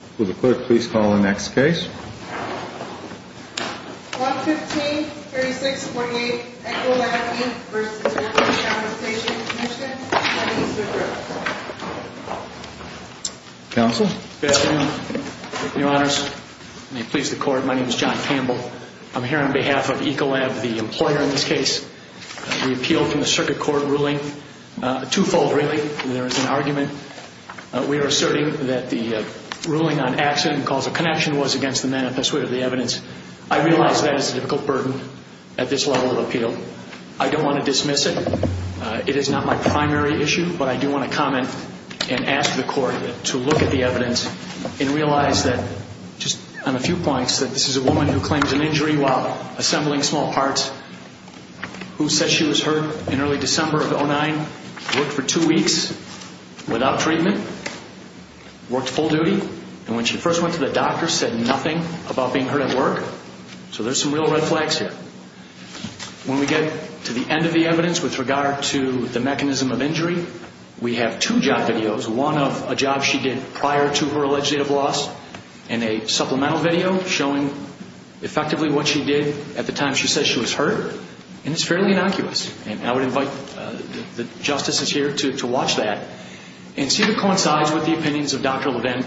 115-3648, Ecolab, Inc. v. Workers' Compensation Comm'n, 7 Eastwood Road. Good afternoon, your honors. May it please the court, my name is John Campbell. I'm here on behalf of Ecolab, the employer in this case. The appeal from the circuit court ruling, twofold really, there is an argument. We are asserting that the ruling on accident and cause of connection was against the manifest wit of the evidence. I realize that is a difficult burden at this level of appeal. I don't want to dismiss it. It is not my primary issue, but I do want to comment and ask the court to look at the evidence and realize that, just on a few points, that this is a woman who claims an injury while assembling small parts, who said she was hurt in early December of 2009, worked for two weeks without treatment, worked full duty, and when she first went to the doctor said nothing about being hurt at work. So there's some real red flags here. When we get to the end of the evidence with regard to the mechanism of injury, we have two job videos, one of a job she did prior to her alleged date of loss and a supplemental video showing effectively what she did at the time she said she was hurt. And it's fairly innocuous. And I would invite the justices here to watch that and see if it coincides with the opinions of Dr. Levin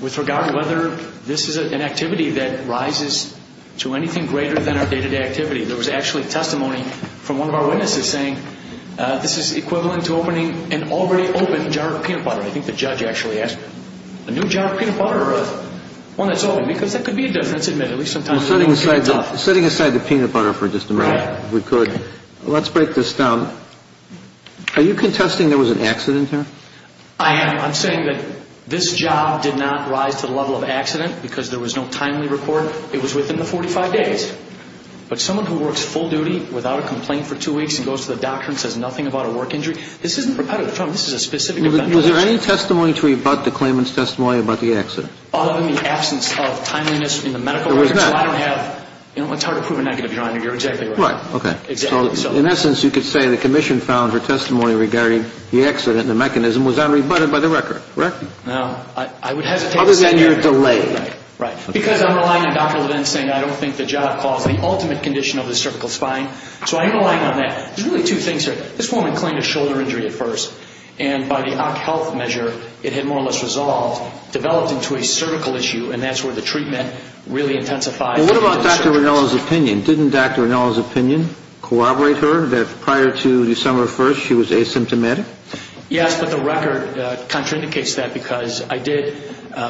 with regard to whether this is an activity that rises to anything greater than our day-to-day activity. There was actually testimony from one of our witnesses saying this is equivalent to opening an already open jar of peanut butter. I think the judge actually asked, a new jar of peanut butter or one that's open? Because that could be a judge that's admitted, at least sometimes. Setting aside the peanut butter for just a minute, if we could, let's break this down. Are you contesting there was an accident here? I am. I'm saying that this job did not rise to the level of accident because there was no timely report. It was within the 45 days. But someone who works full duty without a complaint for two weeks and goes to the doctor and says nothing about a work injury, this isn't repetitive. This is a specific event. Was there any testimony to rebut the claimant's testimony about the accident? Other than the absence of timeliness in the medical records. There was none. It's hard to prove a negative, Your Honor. You're exactly right. Right. Okay. Exactly so. In essence, you could say the commission found her testimony regarding the accident and the mechanism was unrebutted by the record, correct? No. I would hesitate to say that. Other than you're delayed. Right. Because I'm relying on Dr. Levin saying I don't think the job caused the ultimate condition of the cervical spine. So I am relying on that. There's really two things here. This woman claimed a shoulder injury at first. And by the Ock Health measure, it had more or less resolved, developed into a cervical issue, and that's where the treatment really intensified. Well, what about Dr. Rinello's opinion? Didn't Dr. Rinello's opinion corroborate her, that prior to December 1st, she was asymptomatic? Yes, but the record contraindicates that because I did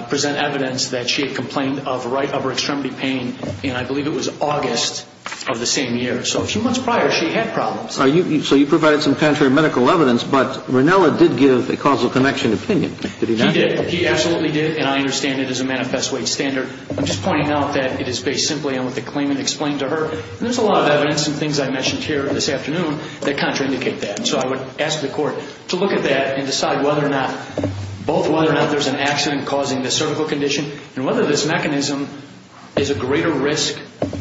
present evidence that she had complained of right upper extremity pain, and I believe it was August of the same year. So a few months prior, she had problems. So you provided some contrary medical evidence, but Rinello did give a causal connection opinion. Did he not? He did. He absolutely did. And I understand it is a manifest weight standard. I'm just pointing out that it is based simply on what the claimant explained to her. And there's a lot of evidence and things I mentioned here this afternoon that contraindicate that. So I would ask the court to look at that and decide whether or not, both whether or not there's an accident causing the cervical condition, and whether this mechanism is a greater risk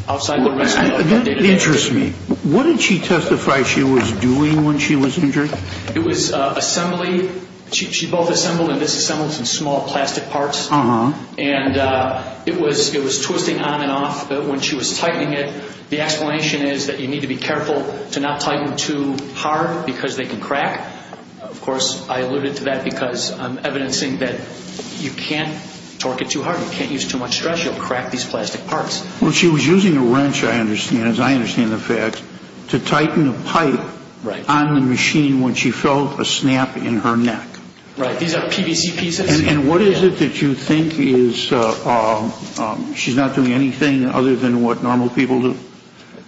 outside the risk. That interests me. What did she testify she was doing when she was injured? It was assembly. She both assembled and disassembled some small plastic parts. Uh-huh. And it was twisting on and off. When she was tightening it, the explanation is that you need to be careful to not tighten too hard, because they can crack. Of course, I alluded to that because I'm evidencing that you can't torque it too hard. You can't use too much stress. You'll crack these plastic parts. Well, she was using a wrench, I understand, as I understand the facts, to tighten a pipe on the machine when she felt a snap in her neck. Right. These are PVC pieces. And what is it that you think is she's not doing anything other than what normal people do?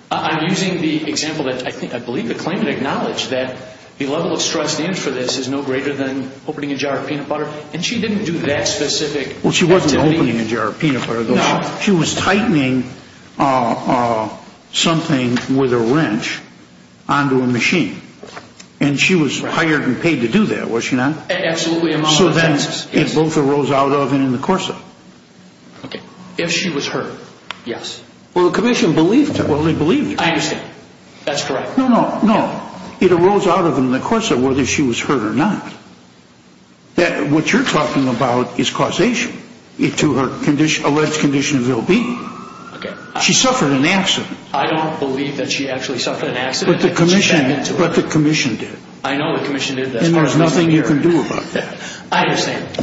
I'm using the example that I believe the claimant acknowledged, that the level of stress and for this is no greater than opening a jar of peanut butter. And she didn't do that specific activity. Well, she wasn't opening a jar of peanut butter. No. She was tightening something with a wrench onto a machine. And she was hired and paid to do that, was she not? Absolutely. So then it both arose out of and in the course of it. If she was hurt, yes. Well, the commission believed her. I understand. That's correct. No, no, no. It arose out of and in the course of whether she was hurt or not. What you're talking about is causation to her alleged condition of ill-being. She suffered an accident. I don't believe that she actually suffered an accident. But the commission did. I know the commission did that. And there's nothing you can do about that. I understand.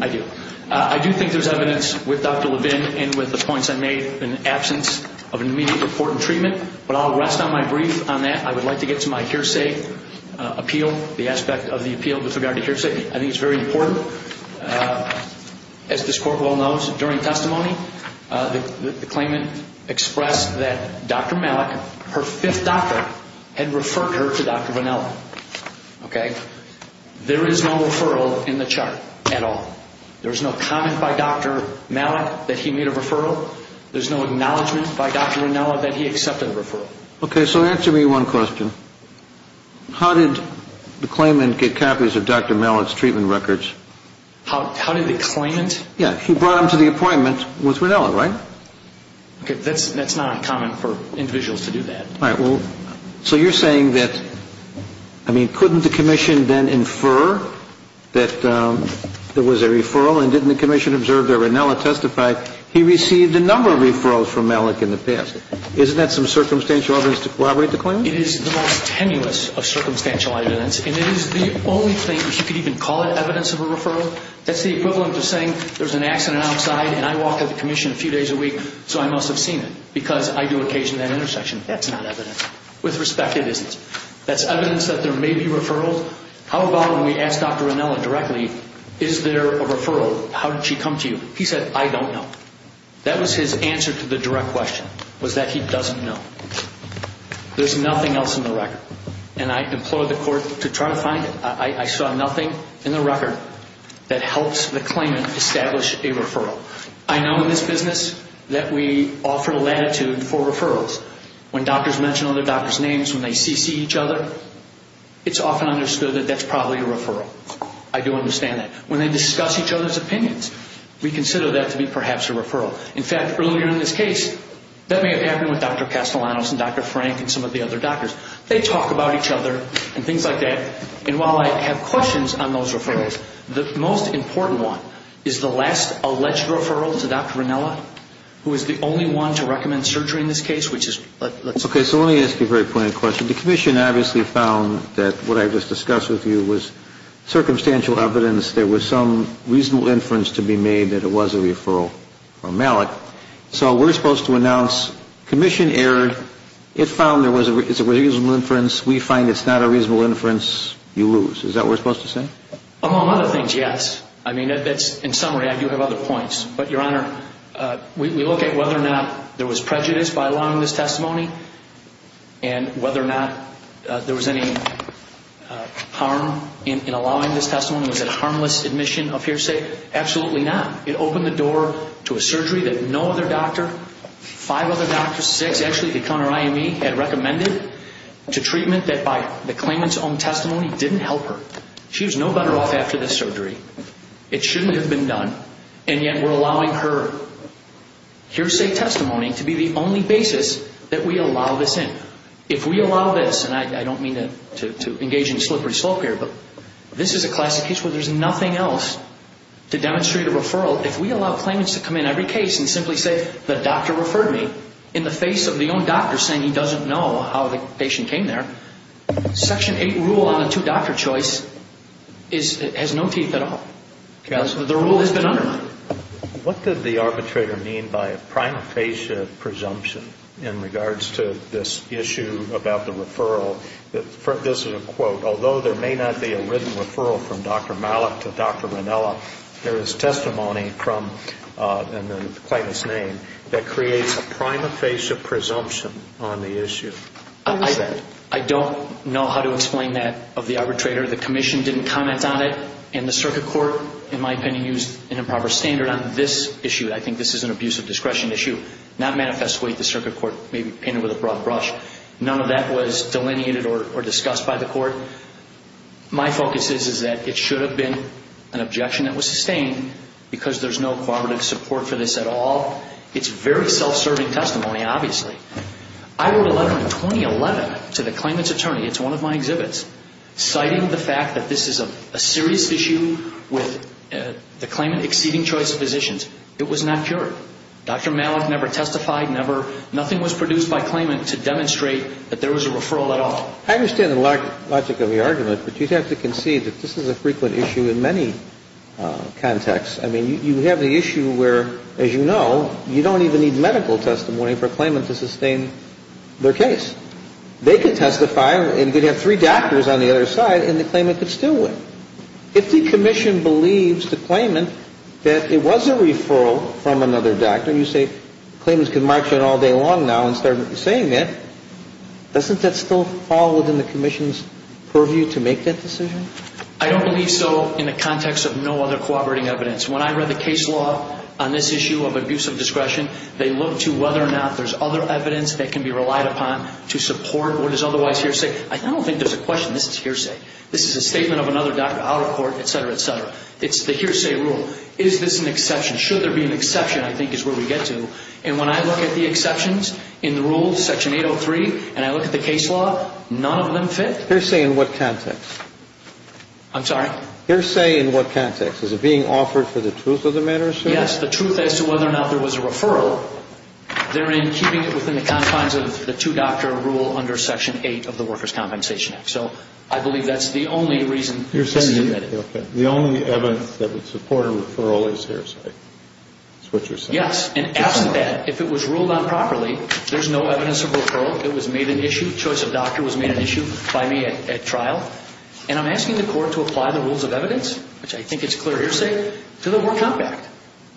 I do. I do think there's evidence with Dr. Levin and with the points I made in the absence of an immediate report and treatment. But I'll rest on my brief on that. I would like to get to my hearsay appeal, the aspect of the appeal with regard to hearsay. I think it's very important. As this Court well knows, during testimony, the claimant expressed that Dr. Malik, her fifth doctor, had referred her to Dr. Rinella. Okay? There is no referral in the chart at all. There's no comment by Dr. Malik that he made a referral. There's no acknowledgment by Dr. Rinella that he accepted the referral. Okay, so answer me one question. How did the claimant get copies of Dr. Malik's treatment records? How did the claimant? Yeah, he brought them to the appointment with Rinella, right? Okay. That's not uncommon for individuals to do that. All right. Well, so you're saying that, I mean, couldn't the commission then infer that there was a referral and didn't the commission observe that Rinella testified? He received a number of referrals from Malik in the past. Isn't that some circumstantial evidence to corroborate the claim? It is the most tenuous of circumstantial evidence. And it is the only thing you could even call it evidence of a referral. That's the equivalent of saying there's an accident outside, and I walk with the commission a few days a week so I must have seen it because I do occasion that intersection. That's not evidence. With respect, it isn't. That's evidence that there may be referrals. How about when we ask Dr. Rinella directly, is there a referral? How did she come to you? He said, I don't know. That was his answer to the direct question was that he doesn't know. There's nothing else in the record. And I implore the court to try to find it. I saw nothing in the record that helps the claimant establish a referral. I know in this business that we offer latitude for referrals. When doctors mention other doctors' names, when they CC each other, it's often understood that that's probably a referral. I do understand that. When they discuss each other's opinions, we consider that to be perhaps a referral. In fact, earlier in this case, that may have happened with Dr. Castellanos and Dr. Frank and some of the other doctors. They talk about each other and things like that. And while I have questions on those referrals, the most important one is the last alleged referral to Dr. Rinella, who is the only one to recommend surgery in this case. Okay, so let me ask you a very pointed question. The commission obviously found that what I just discussed with you was circumstantial evidence. There was some reasonable inference to be made that it was a referral from Malik. So we're supposed to announce commission error. It found there was a reasonable inference. We find it's not a reasonable inference. You lose. Is that what we're supposed to say? Among other things, yes. I mean, in summary, I do have other points. But, Your Honor, we look at whether or not there was prejudice by allowing this testimony and whether or not there was any harm in allowing this testimony. Was it harmless admission of hearsay? Absolutely not. It opened the door to a surgery that no other doctor, five other doctors, six actually, had recommended to treatment that by the claimant's own testimony didn't help her. She was no better off after this surgery. It shouldn't have been done, and yet we're allowing her hearsay testimony to be the only basis that we allow this in. If we allow this, and I don't mean to engage in slippery slope here, but this is a classic case where there's nothing else to demonstrate a referral. If we allow claimants to come in every case and simply say, the doctor referred me in the face of the own doctor saying he doesn't know how the patient came there, Section 8 rule on the two-doctor choice has no teeth at all. The rule has been undermined. What did the arbitrator mean by a prima facie presumption in regards to this issue about the referral? This is a quote. Although there may not be a written referral from Dr. Malik to Dr. Ranella, there is testimony from the claimant's name that creates a prima facie presumption on the issue. I don't know how to explain that of the arbitrator. The commission didn't comment on it, and the circuit court, in my opinion, used an improper standard on this issue. I think this is an abuse of discretion issue, not manifestly the circuit court, maybe painted with a broad brush. None of that was delineated or discussed by the court. My focus is that it should have been an objection that was sustained because there's no cooperative support for this at all. It's very self-serving testimony, obviously. I wrote a letter in 2011 to the claimant's attorney, it's one of my exhibits, citing the fact that this is a serious issue with the claimant exceeding choice of physicians. It was not cured. Dr. Malik never testified, nothing was produced by claimant to demonstrate that there was a referral at all. I understand the logic of the argument, but you'd have to concede that this is a frequent issue in many contexts. I mean, you have the issue where, as you know, you don't even need medical testimony for a claimant to sustain their case. They could testify, and you could have three doctors on the other side, and the claimant could still win. If the commission believes the claimant that it was a referral from another doctor, and you say claimants can march on all day long now and start saying that, doesn't that still fall within the commission's purview to make that decision? I don't believe so in the context of no other cooperating evidence. When I read the case law on this issue of abuse of discretion, they look to whether or not there's other evidence that can be relied upon to support what is otherwise hearsay. I don't think there's a question this is hearsay. This is a statement of another doctor out of court, et cetera, et cetera. It's the hearsay rule. Is this an exception? Should there be an exception, I think, is where we get to. And when I look at the exceptions in the rules, Section 803, and I look at the case law, none of them fit. Hearsay in what context? I'm sorry? Hearsay in what context? Is it being offered for the truth of the matter, sir? Yes, the truth as to whether or not there was a referral, therein keeping it within the confines of the two-doctor rule under Section 8 of the Workers' Compensation Act. So I believe that's the only reason it's submitted. You're saying the only evidence that would support a referral is hearsay. That's what you're saying. Yes, and after that, if it was ruled on properly, there's no evidence of referral. It was made an issue. Choice of doctor was made an issue by me at trial. And I'm asking the court to apply the rules of evidence, which I think is clear hearsay, to the War Compact.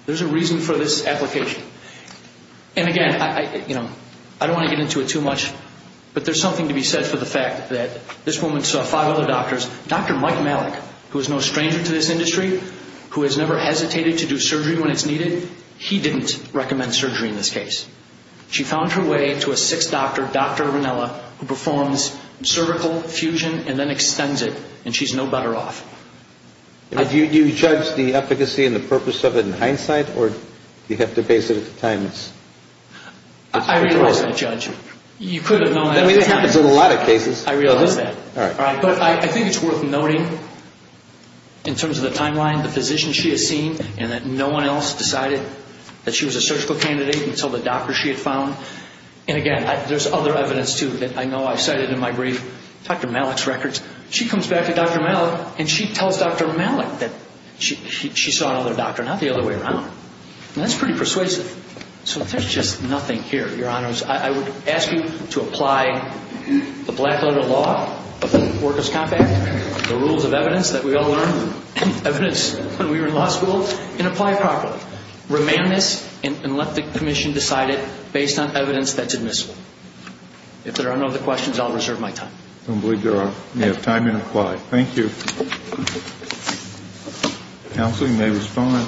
There's a reason for this application. And, again, I don't want to get into it too much, but there's something to be said for the fact that this woman saw five other doctors. Dr. Mike Malik, who is no stranger to this industry, who has never hesitated to do surgery when it's needed, he didn't recommend surgery in this case. She found her way to a sixth doctor, Dr. Ranella, who performs cervical fusion and then extends it, and she's no better off. Do you judge the efficacy and the purpose of it in hindsight, or do you have to base it at the time? I realize that, Judge. You could have known. I mean, it happens in a lot of cases. I realize that. All right. But I think it's worth noting, in terms of the timeline, and that no one else decided that she was a surgical candidate until the doctor she had found. And, again, there's other evidence, too, that I know I've cited in my brief. Dr. Malik's records. She comes back to Dr. Malik, and she tells Dr. Malik that she saw another doctor, not the other way around. And that's pretty persuasive. So there's just nothing here, Your Honors. I would ask you to apply the black-letter law of the Workers' Compact, the rules of evidence that we all learned, evidence when we were in law school, and apply it properly. Remain on this and let the Commission decide it based on evidence that's admissible. If there are no other questions, I'll reserve my time. I believe you have time to apply. Thank you. Counsel, you may respond.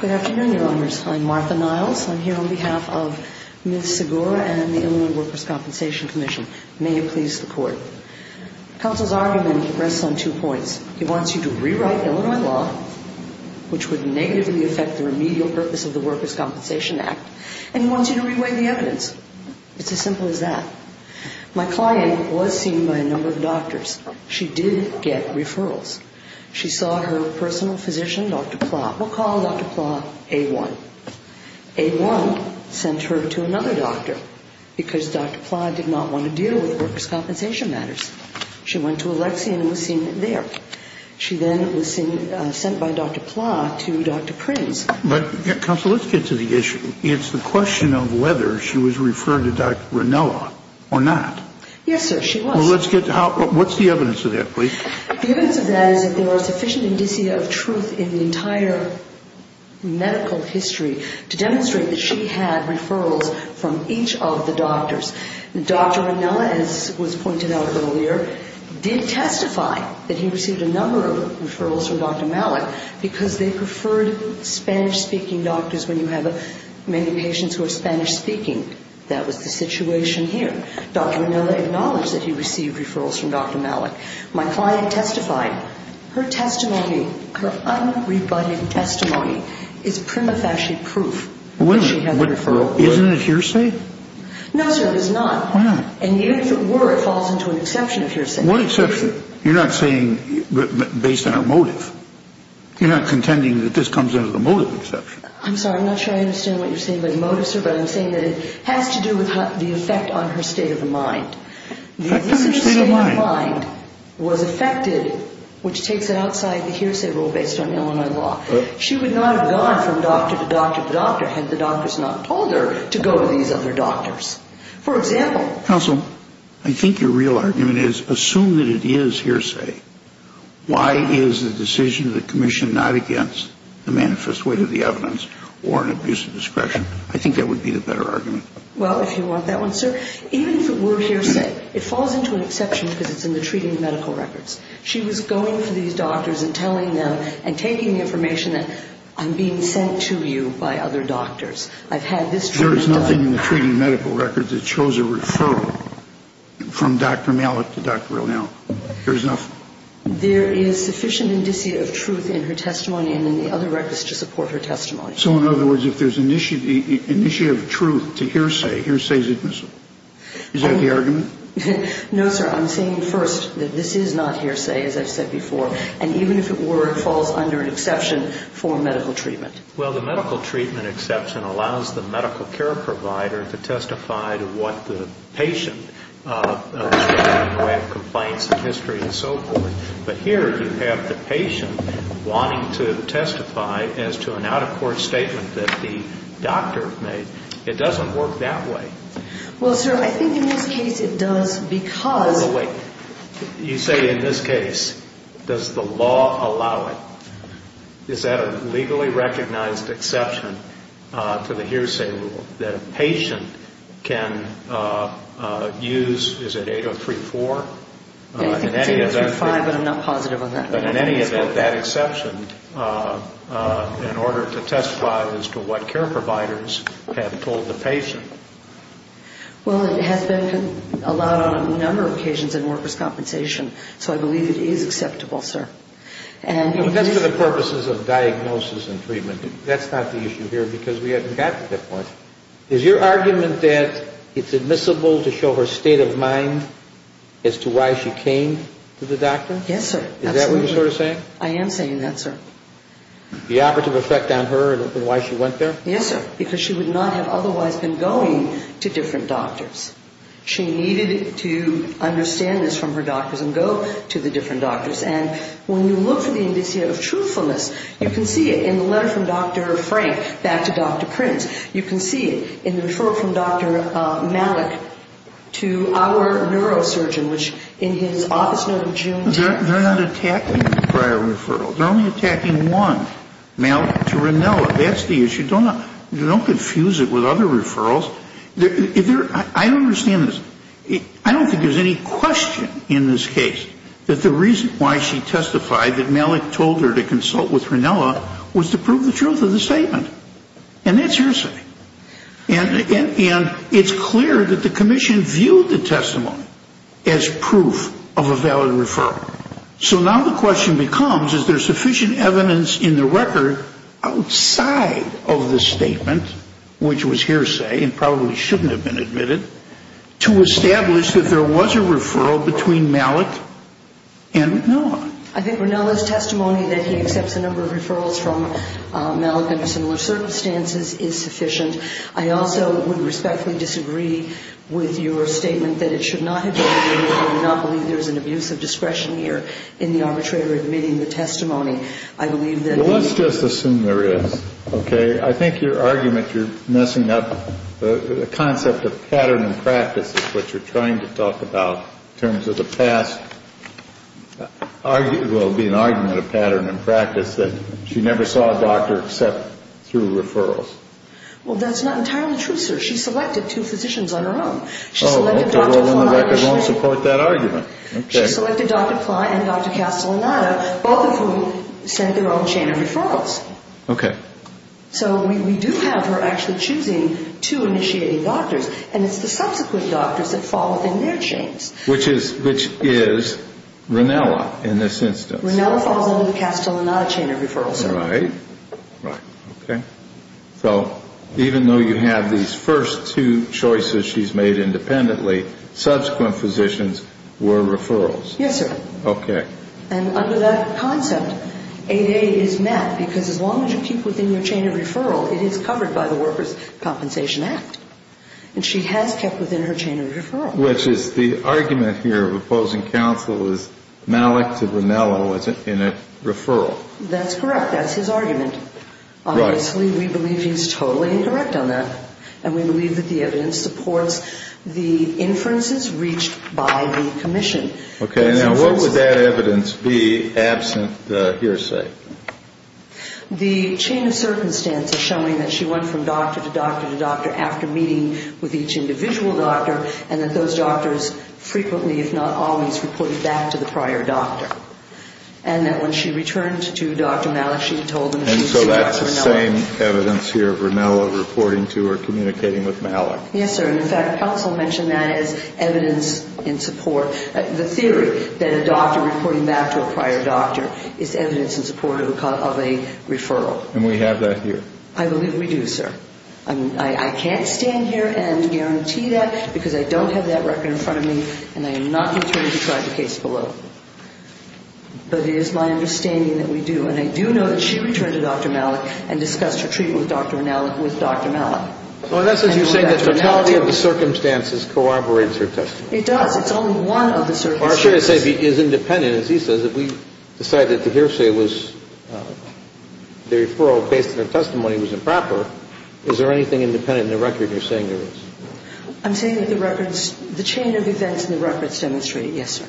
Good afternoon, Your Honors. I'm Martha Niles. I'm here on behalf of Ms. Segura and the Illinois Workers' Compensation Commission. May it please the Court. Counsel's argument rests on two points. He wants you to rewrite Illinois law, which would negatively affect the remedial purpose of the Workers' Compensation Act, and he wants you to reweigh the evidence. It's as simple as that. My client was seen by a number of doctors. She did get referrals. She saw her personal physician, Dr. Pla. We'll call Dr. Pla A-1. A-1 sent her to another doctor because Dr. Pla did not want to deal with workers' compensation matters. She went to Alexia and was seen there. She then was sent by Dr. Pla to Dr. Prince. But, Counsel, let's get to the issue. It's the question of whether she was referred to Dr. Ranella or not. Yes, sir, she was. Well, let's get to how ñ what's the evidence of that, please? The evidence of that is that there are sufficient indicia of truth in the entire medical history to demonstrate that she had referrals from each of the doctors. Dr. Ranella, as was pointed out earlier, did testify that he received a number of referrals from Dr. Malik because they preferred Spanish-speaking doctors when you have many patients who are Spanish-speaking. That was the situation here. Dr. Ranella acknowledged that he received referrals from Dr. Malik. My client testified. Her testimony, her unrebutted testimony, is prima facie proof that she had a referral. Isn't it hearsay? No, sir, it is not. Why not? And even if it were, it falls into an exception of hearsay. What exception? You're not saying based on a motive. You're not contending that this comes under the motive exception. I'm sorry, I'm not sure I understand what you're saying by motive, sir, but I'm saying that it has to do with the effect on her state of the mind. The effect on her state of mind. This state of mind was affected, which takes it outside the hearsay rule based on Illinois law. She would not have gone from doctor to doctor to doctor had the doctors not told her to go to these other doctors. For example. Counsel, I think your real argument is assume that it is hearsay. Why is the decision of the commission not against the manifest weight of the evidence or an abuse of discretion? I think that would be the better argument. Well, if you want that one, sir, even if it were hearsay, it falls into an exception because it's in the treating medical records. She was going to these doctors and telling them and taking the information that I'm being sent to you by other doctors. I've had this treatment done. There is nothing in the treating medical records that shows a referral from Dr. Malick to Dr. O'Neill. There is nothing. There is sufficient indicia of truth in her testimony and in the other records to support her testimony. So, in other words, if there is an indicia of truth to hearsay, hearsay is admissible. Is that the argument? No, sir. I'm saying first that this is not hearsay, as I've said before, and even if it were, it falls under an exception for medical treatment. Well, the medical treatment exception allows the medical care provider to testify to what the patient, in the way of complaints and history and so forth. But here you have the patient wanting to testify as to an out-of-court statement that the doctor made. It doesn't work that way. Well, sir, I think in this case it does because... Oh, wait. You say in this case. Does the law allow it? Is that a legally recognized exception to the hearsay rule that a patient can use, is it 8034? I think it's 8035, but I'm not positive on that. But in any event, that exception in order to testify as to what care providers have told the patient. Well, it has been allowed on a number of occasions in workers' compensation, so I believe it is acceptable, sir. That's for the purposes of diagnosis and treatment. That's not the issue here because we haven't gotten to that point. Is your argument that it's admissible to show her state of mind as to why she came to the doctor? Yes, sir. Is that what you're sort of saying? I am saying that, sir. The operative effect on her and why she went there? Yes, sir, because she would not have otherwise been going to different doctors. She needed to understand this from her doctors and go to the different doctors. And when you look for the indicia of truthfulness, you can see it in the letter from Dr. Frank back to Dr. Prince. You can see it in the referral from Dr. Malik to our neurosurgeon, which in his office note in June. They're not attacking the prior referral. They're only attacking one, Malik, to Rinella. That's the issue. Don't confuse it with other referrals. I don't understand this. I don't think there's any question in this case that the reason why she testified that Malik told her to consult with Rinella was to prove the truth of the statement. And that's hearsay. And it's clear that the commission viewed the testimony as proof of a valid referral. So now the question becomes, is there sufficient evidence in the record outside of the statement, which was hearsay and probably shouldn't have been admitted, to establish that there was a referral between Malik and Rinella? I think Rinella's testimony that he accepts a number of referrals from Malik under similar circumstances is sufficient. I also would respectfully disagree with your statement that it should not have been admitted. I do not believe there is an abuse of discretion here in the arbitrator admitting the testimony. I believe that the ---- Well, let's just assume there is. Okay? I think your argument you're messing up the concept of pattern and practice is what you're trying to talk about in terms of the past. Well, it would be an argument of pattern and practice that she never saw a doctor except through referrals. Well, that's not entirely true, sir. She selected two physicians on her own. Oh, okay. Well, then the record won't support that argument. She selected Dr. Kline and Dr. Castellanato, both of whom sent their own chain of referrals. Okay. So we do have her actually choosing two initiating doctors, and it's the subsequent doctors that fall within their chains. Which is Ronella in this instance. Ronella falls under the Castellanato chain of referrals, sir. Right. Right. Okay. So even though you have these first two choices she's made independently, subsequent physicians were referrals. Yes, sir. Okay. And under that concept, 8A is met because as long as you keep within your chain of referral, it is covered by the Workers' Compensation Act. And she has kept within her chain of referral. Which is the argument here of opposing counsel is Malik to Ronella was in a referral. That's correct. That's his argument. Right. Obviously, we believe he's totally indirect on that, and we believe that the evidence supports the inferences reached by the commission. Okay. Now, what would that evidence be absent the hearsay? The chain of circumstance is showing that she went from doctor to doctor to doctor after meeting with each individual doctor, and that those doctors frequently, if not always, reported back to the prior doctor. And that when she returned to Dr. Malik, she told him she was seeing Dr. Ronella. And so that's the same evidence here of Ronella reporting to or communicating with Malik. Yes, sir. And, in fact, counsel mentioned that as evidence in support. The theory that a doctor reporting back to a prior doctor is evidence in support of a referral. And we have that here. I believe we do, sir. I can't stand here and guarantee that because I don't have that record in front of me, and I am not determined to try the case below. But it is my understanding that we do. And I do know that she returned to Dr. Malik and discussed her treatment with Dr. Malik. So in essence, you're saying the totality of the circumstances corroborates her testimony. It does. It's only one of the circumstances. Our case is independent. As he says, if we decide that the hearsay was, the referral based on her testimony was improper, is there anything independent in the record you're saying there is? I'm saying that the records, the chain of events in the records demonstrate it. Yes, sir.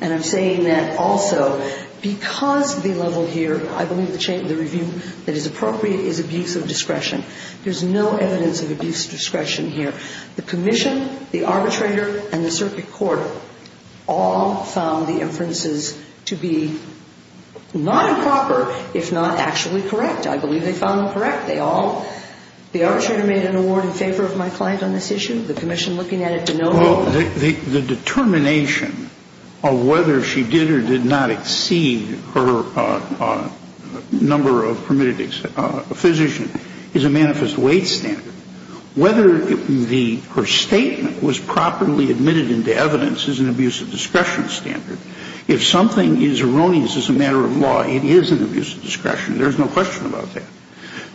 And I'm saying that also because the level here, I believe the review that is appropriate is abuse of discretion. There's no evidence of abuse of discretion here. The commission, the arbitrator, and the circuit court all found the inferences to be not improper, if not actually correct. I believe they found them correct. They all, the arbitrator made an award in favor of my client on this issue. The commission looking at it to know. Well, the determination of whether she did or did not exceed her number of permitted physicians is a manifest weight standard. Whether her statement was properly admitted into evidence is an abuse of discretion standard. If something is erroneous as a matter of law, it is an abuse of discretion. There's no question about that.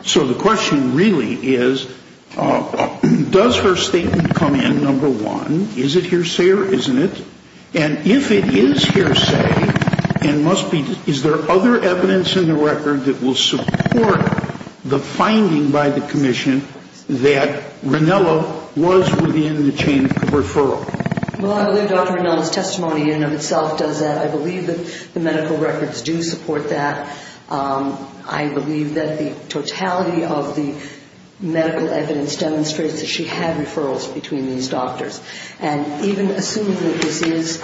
So the question really is, does her statement come in, number one, is it hearsay or isn't it? And if it is hearsay, is there other evidence in the record that will support the finding by the commission that Ranella was within the chain of referral? Well, I believe Dr. Ranella's testimony in and of itself does that. I believe that the medical records do support that. I believe that the totality of the medical evidence demonstrates that she had referrals between these doctors. And even assuming that this is,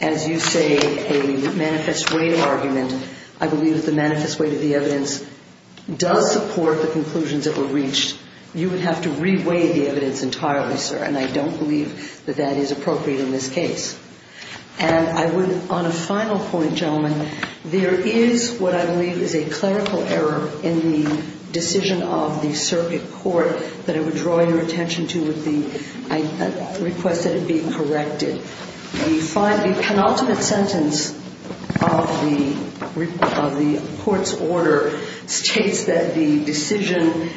as you say, a manifest weight argument, I believe that the manifest weight of the evidence does support the conclusions that were reached. You would have to re-weight the evidence entirely, sir. And I don't believe that that is appropriate in this case. And I would, on a final point, gentlemen, there is what I believe is a clerical error in the decision of the circuit court that I would draw your attention to with the request that it be corrected. The penultimate sentence of the court's order states that the decision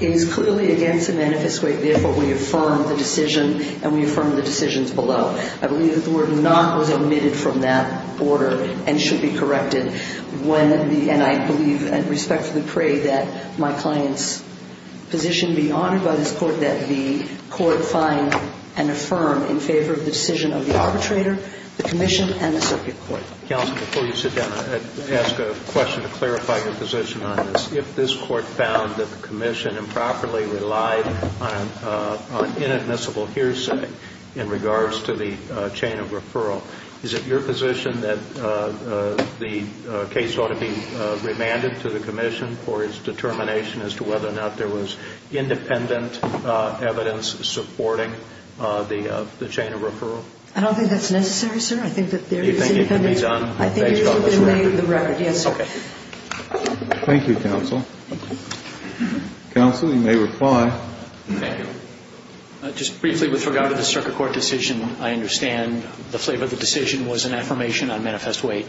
is clearly against the manifest weight, therefore we affirm the decision and we affirm the decisions below. I believe that the word not was omitted from that order and should be corrected. And I believe and respectfully pray that my client's position be honored by this court, that the court find and affirm in favor of the decision of the arbitrator, the commission, and the circuit court. Counsel, before you sit down, I'd ask a question to clarify your position on this. If this court found that the commission improperly relied on inadmissible hearsay in regards to the chain of referral, is it your position that the case ought to be remanded to the commission for its determination as to whether or not there was independent evidence supporting the chain of referral? I don't think that's necessary, sir. I think that there is independent evidence. You think it can be done based on this record? I think it can be made the record, yes, sir. Okay. Thank you, counsel. Counsel, you may reply. Thank you. Just briefly with regard to the circuit court decision, I understand the flavor of the decision was an affirmation on manifest weight.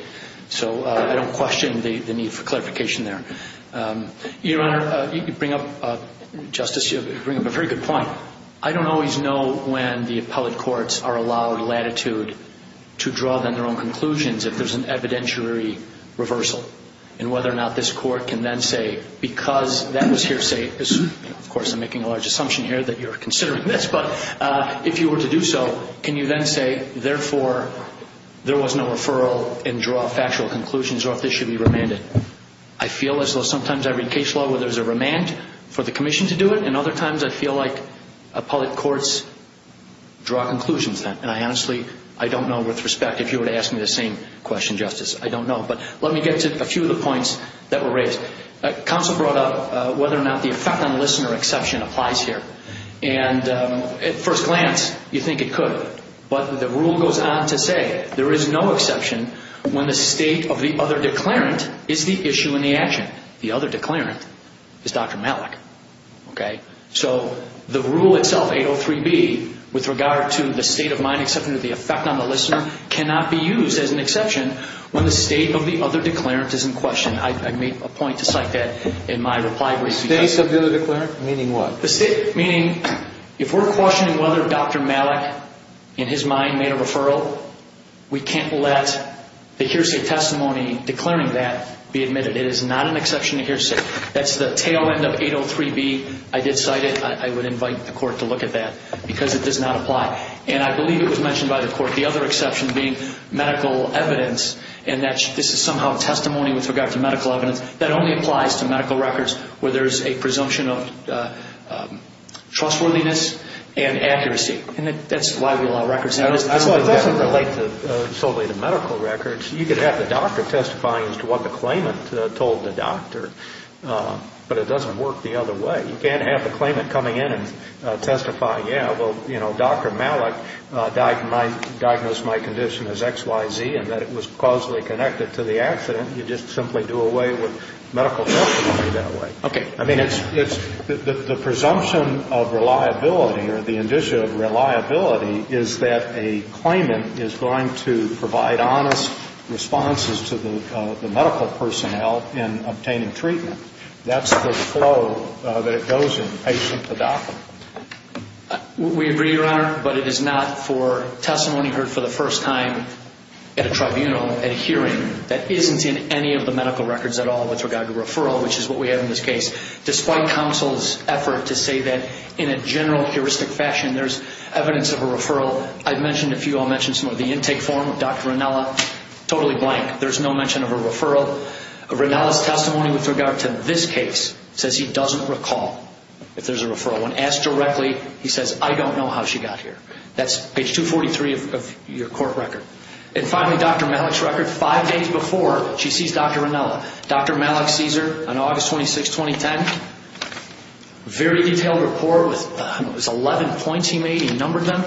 So I don't question the need for clarification there. Your Honor, you bring up, Justice, you bring up a very good point. I don't always know when the appellate courts are allowed latitude to draw then their own conclusions if there's an evidentiary reversal, and whether or not this court can then say, because that was hearsay, of course, I'm making a large assumption here that you're considering this, but if you were to do so, can you then say, therefore, there was no referral and draw factual conclusions, or if this should be remanded? I feel as though sometimes I read case law where there's a remand for the commission to do it, and other times I feel like appellate courts draw conclusions then. And I honestly, I don't know with respect if you were to ask me the same question, Justice. I don't know. But let me get to a few of the points that were raised. Counsel brought up whether or not the effect on listener exception applies here. At first glance, you think it could. But the rule goes on to say there is no exception when the state of the other declarant is the issue in the action. The other declarant is Dr. Malik. Okay? So the rule itself, 803B, with regard to the state of mind exception of the effect on the listener cannot be used as an exception when the state of the other declarant is in question. I made a point to cite that in my reply brief. The state of the other declarant, meaning what? The state, meaning if we're questioning whether Dr. Malik, in his mind, made a referral, we can't let the hearsay testimony declaring that be admitted. It is not an exception to hearsay. That's the tail end of 803B. I did cite it. I would invite the court to look at that because it does not apply. And I believe it was mentioned by the court. The other exception being medical evidence and that this is somehow testimony with regard to medical evidence. That only applies to medical records where there is a presumption of trustworthiness and accuracy. And that's why we allow records. It doesn't relate solely to medical records. You could have the doctor testifying as to what the claimant told the doctor. But it doesn't work the other way. You can't have the claimant coming in and testifying, yeah, well, you know, Dr. Malik diagnosed my condition as XYZ and that it was causally connected to the accident. You just simply do away with medical testimony that way. Okay. I mean, it's the presumption of reliability or the indicia of reliability is that a claimant is going to provide honest responses to the medical personnel in obtaining treatment. That's the flow that it goes in, patient to doctor. We agree, Your Honor, but it is not for testimony heard for the first time at a tribunal, at a hearing that isn't in any of the medical records at all with regard to referral, which is what we have in this case. Despite counsel's effort to say that in a general heuristic fashion there's evidence of a referral, I've mentioned a few, I'll mention some of the intake form of Dr. Ranella, totally blank. There's no mention of a referral. Ranella's testimony with regard to this case says he doesn't recall if there's a referral. When asked directly, he says, I don't know how she got here. That's page 243 of your court record. And finally, Dr. Malik's record five days before she sees Dr. Ranella. Dr. Malik sees her on August 26, 2010. Very detailed report with 11 points he made. He numbered them.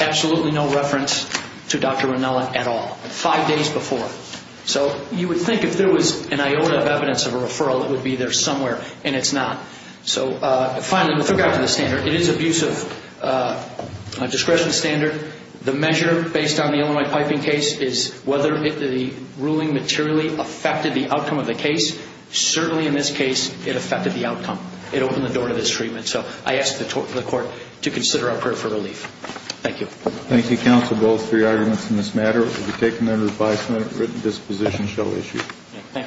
Absolutely no reference to Dr. Ranella at all. Five days before. So you would think if there was an iota of evidence of a referral, it would be there somewhere, and it's not. So finally, with regard to the standard, it is an abuse of discretion standard. The measure based on the Illinois piping case is whether the ruling materially affected the outcome of the case. Certainly in this case, it affected the outcome. It opened the door to this treatment. So I ask the court to consider our prayer for relief. Thank you. Thank you, counsel, both for your arguments in this matter. It will be taken under the bias of merit that this position shall be issued. Thank you.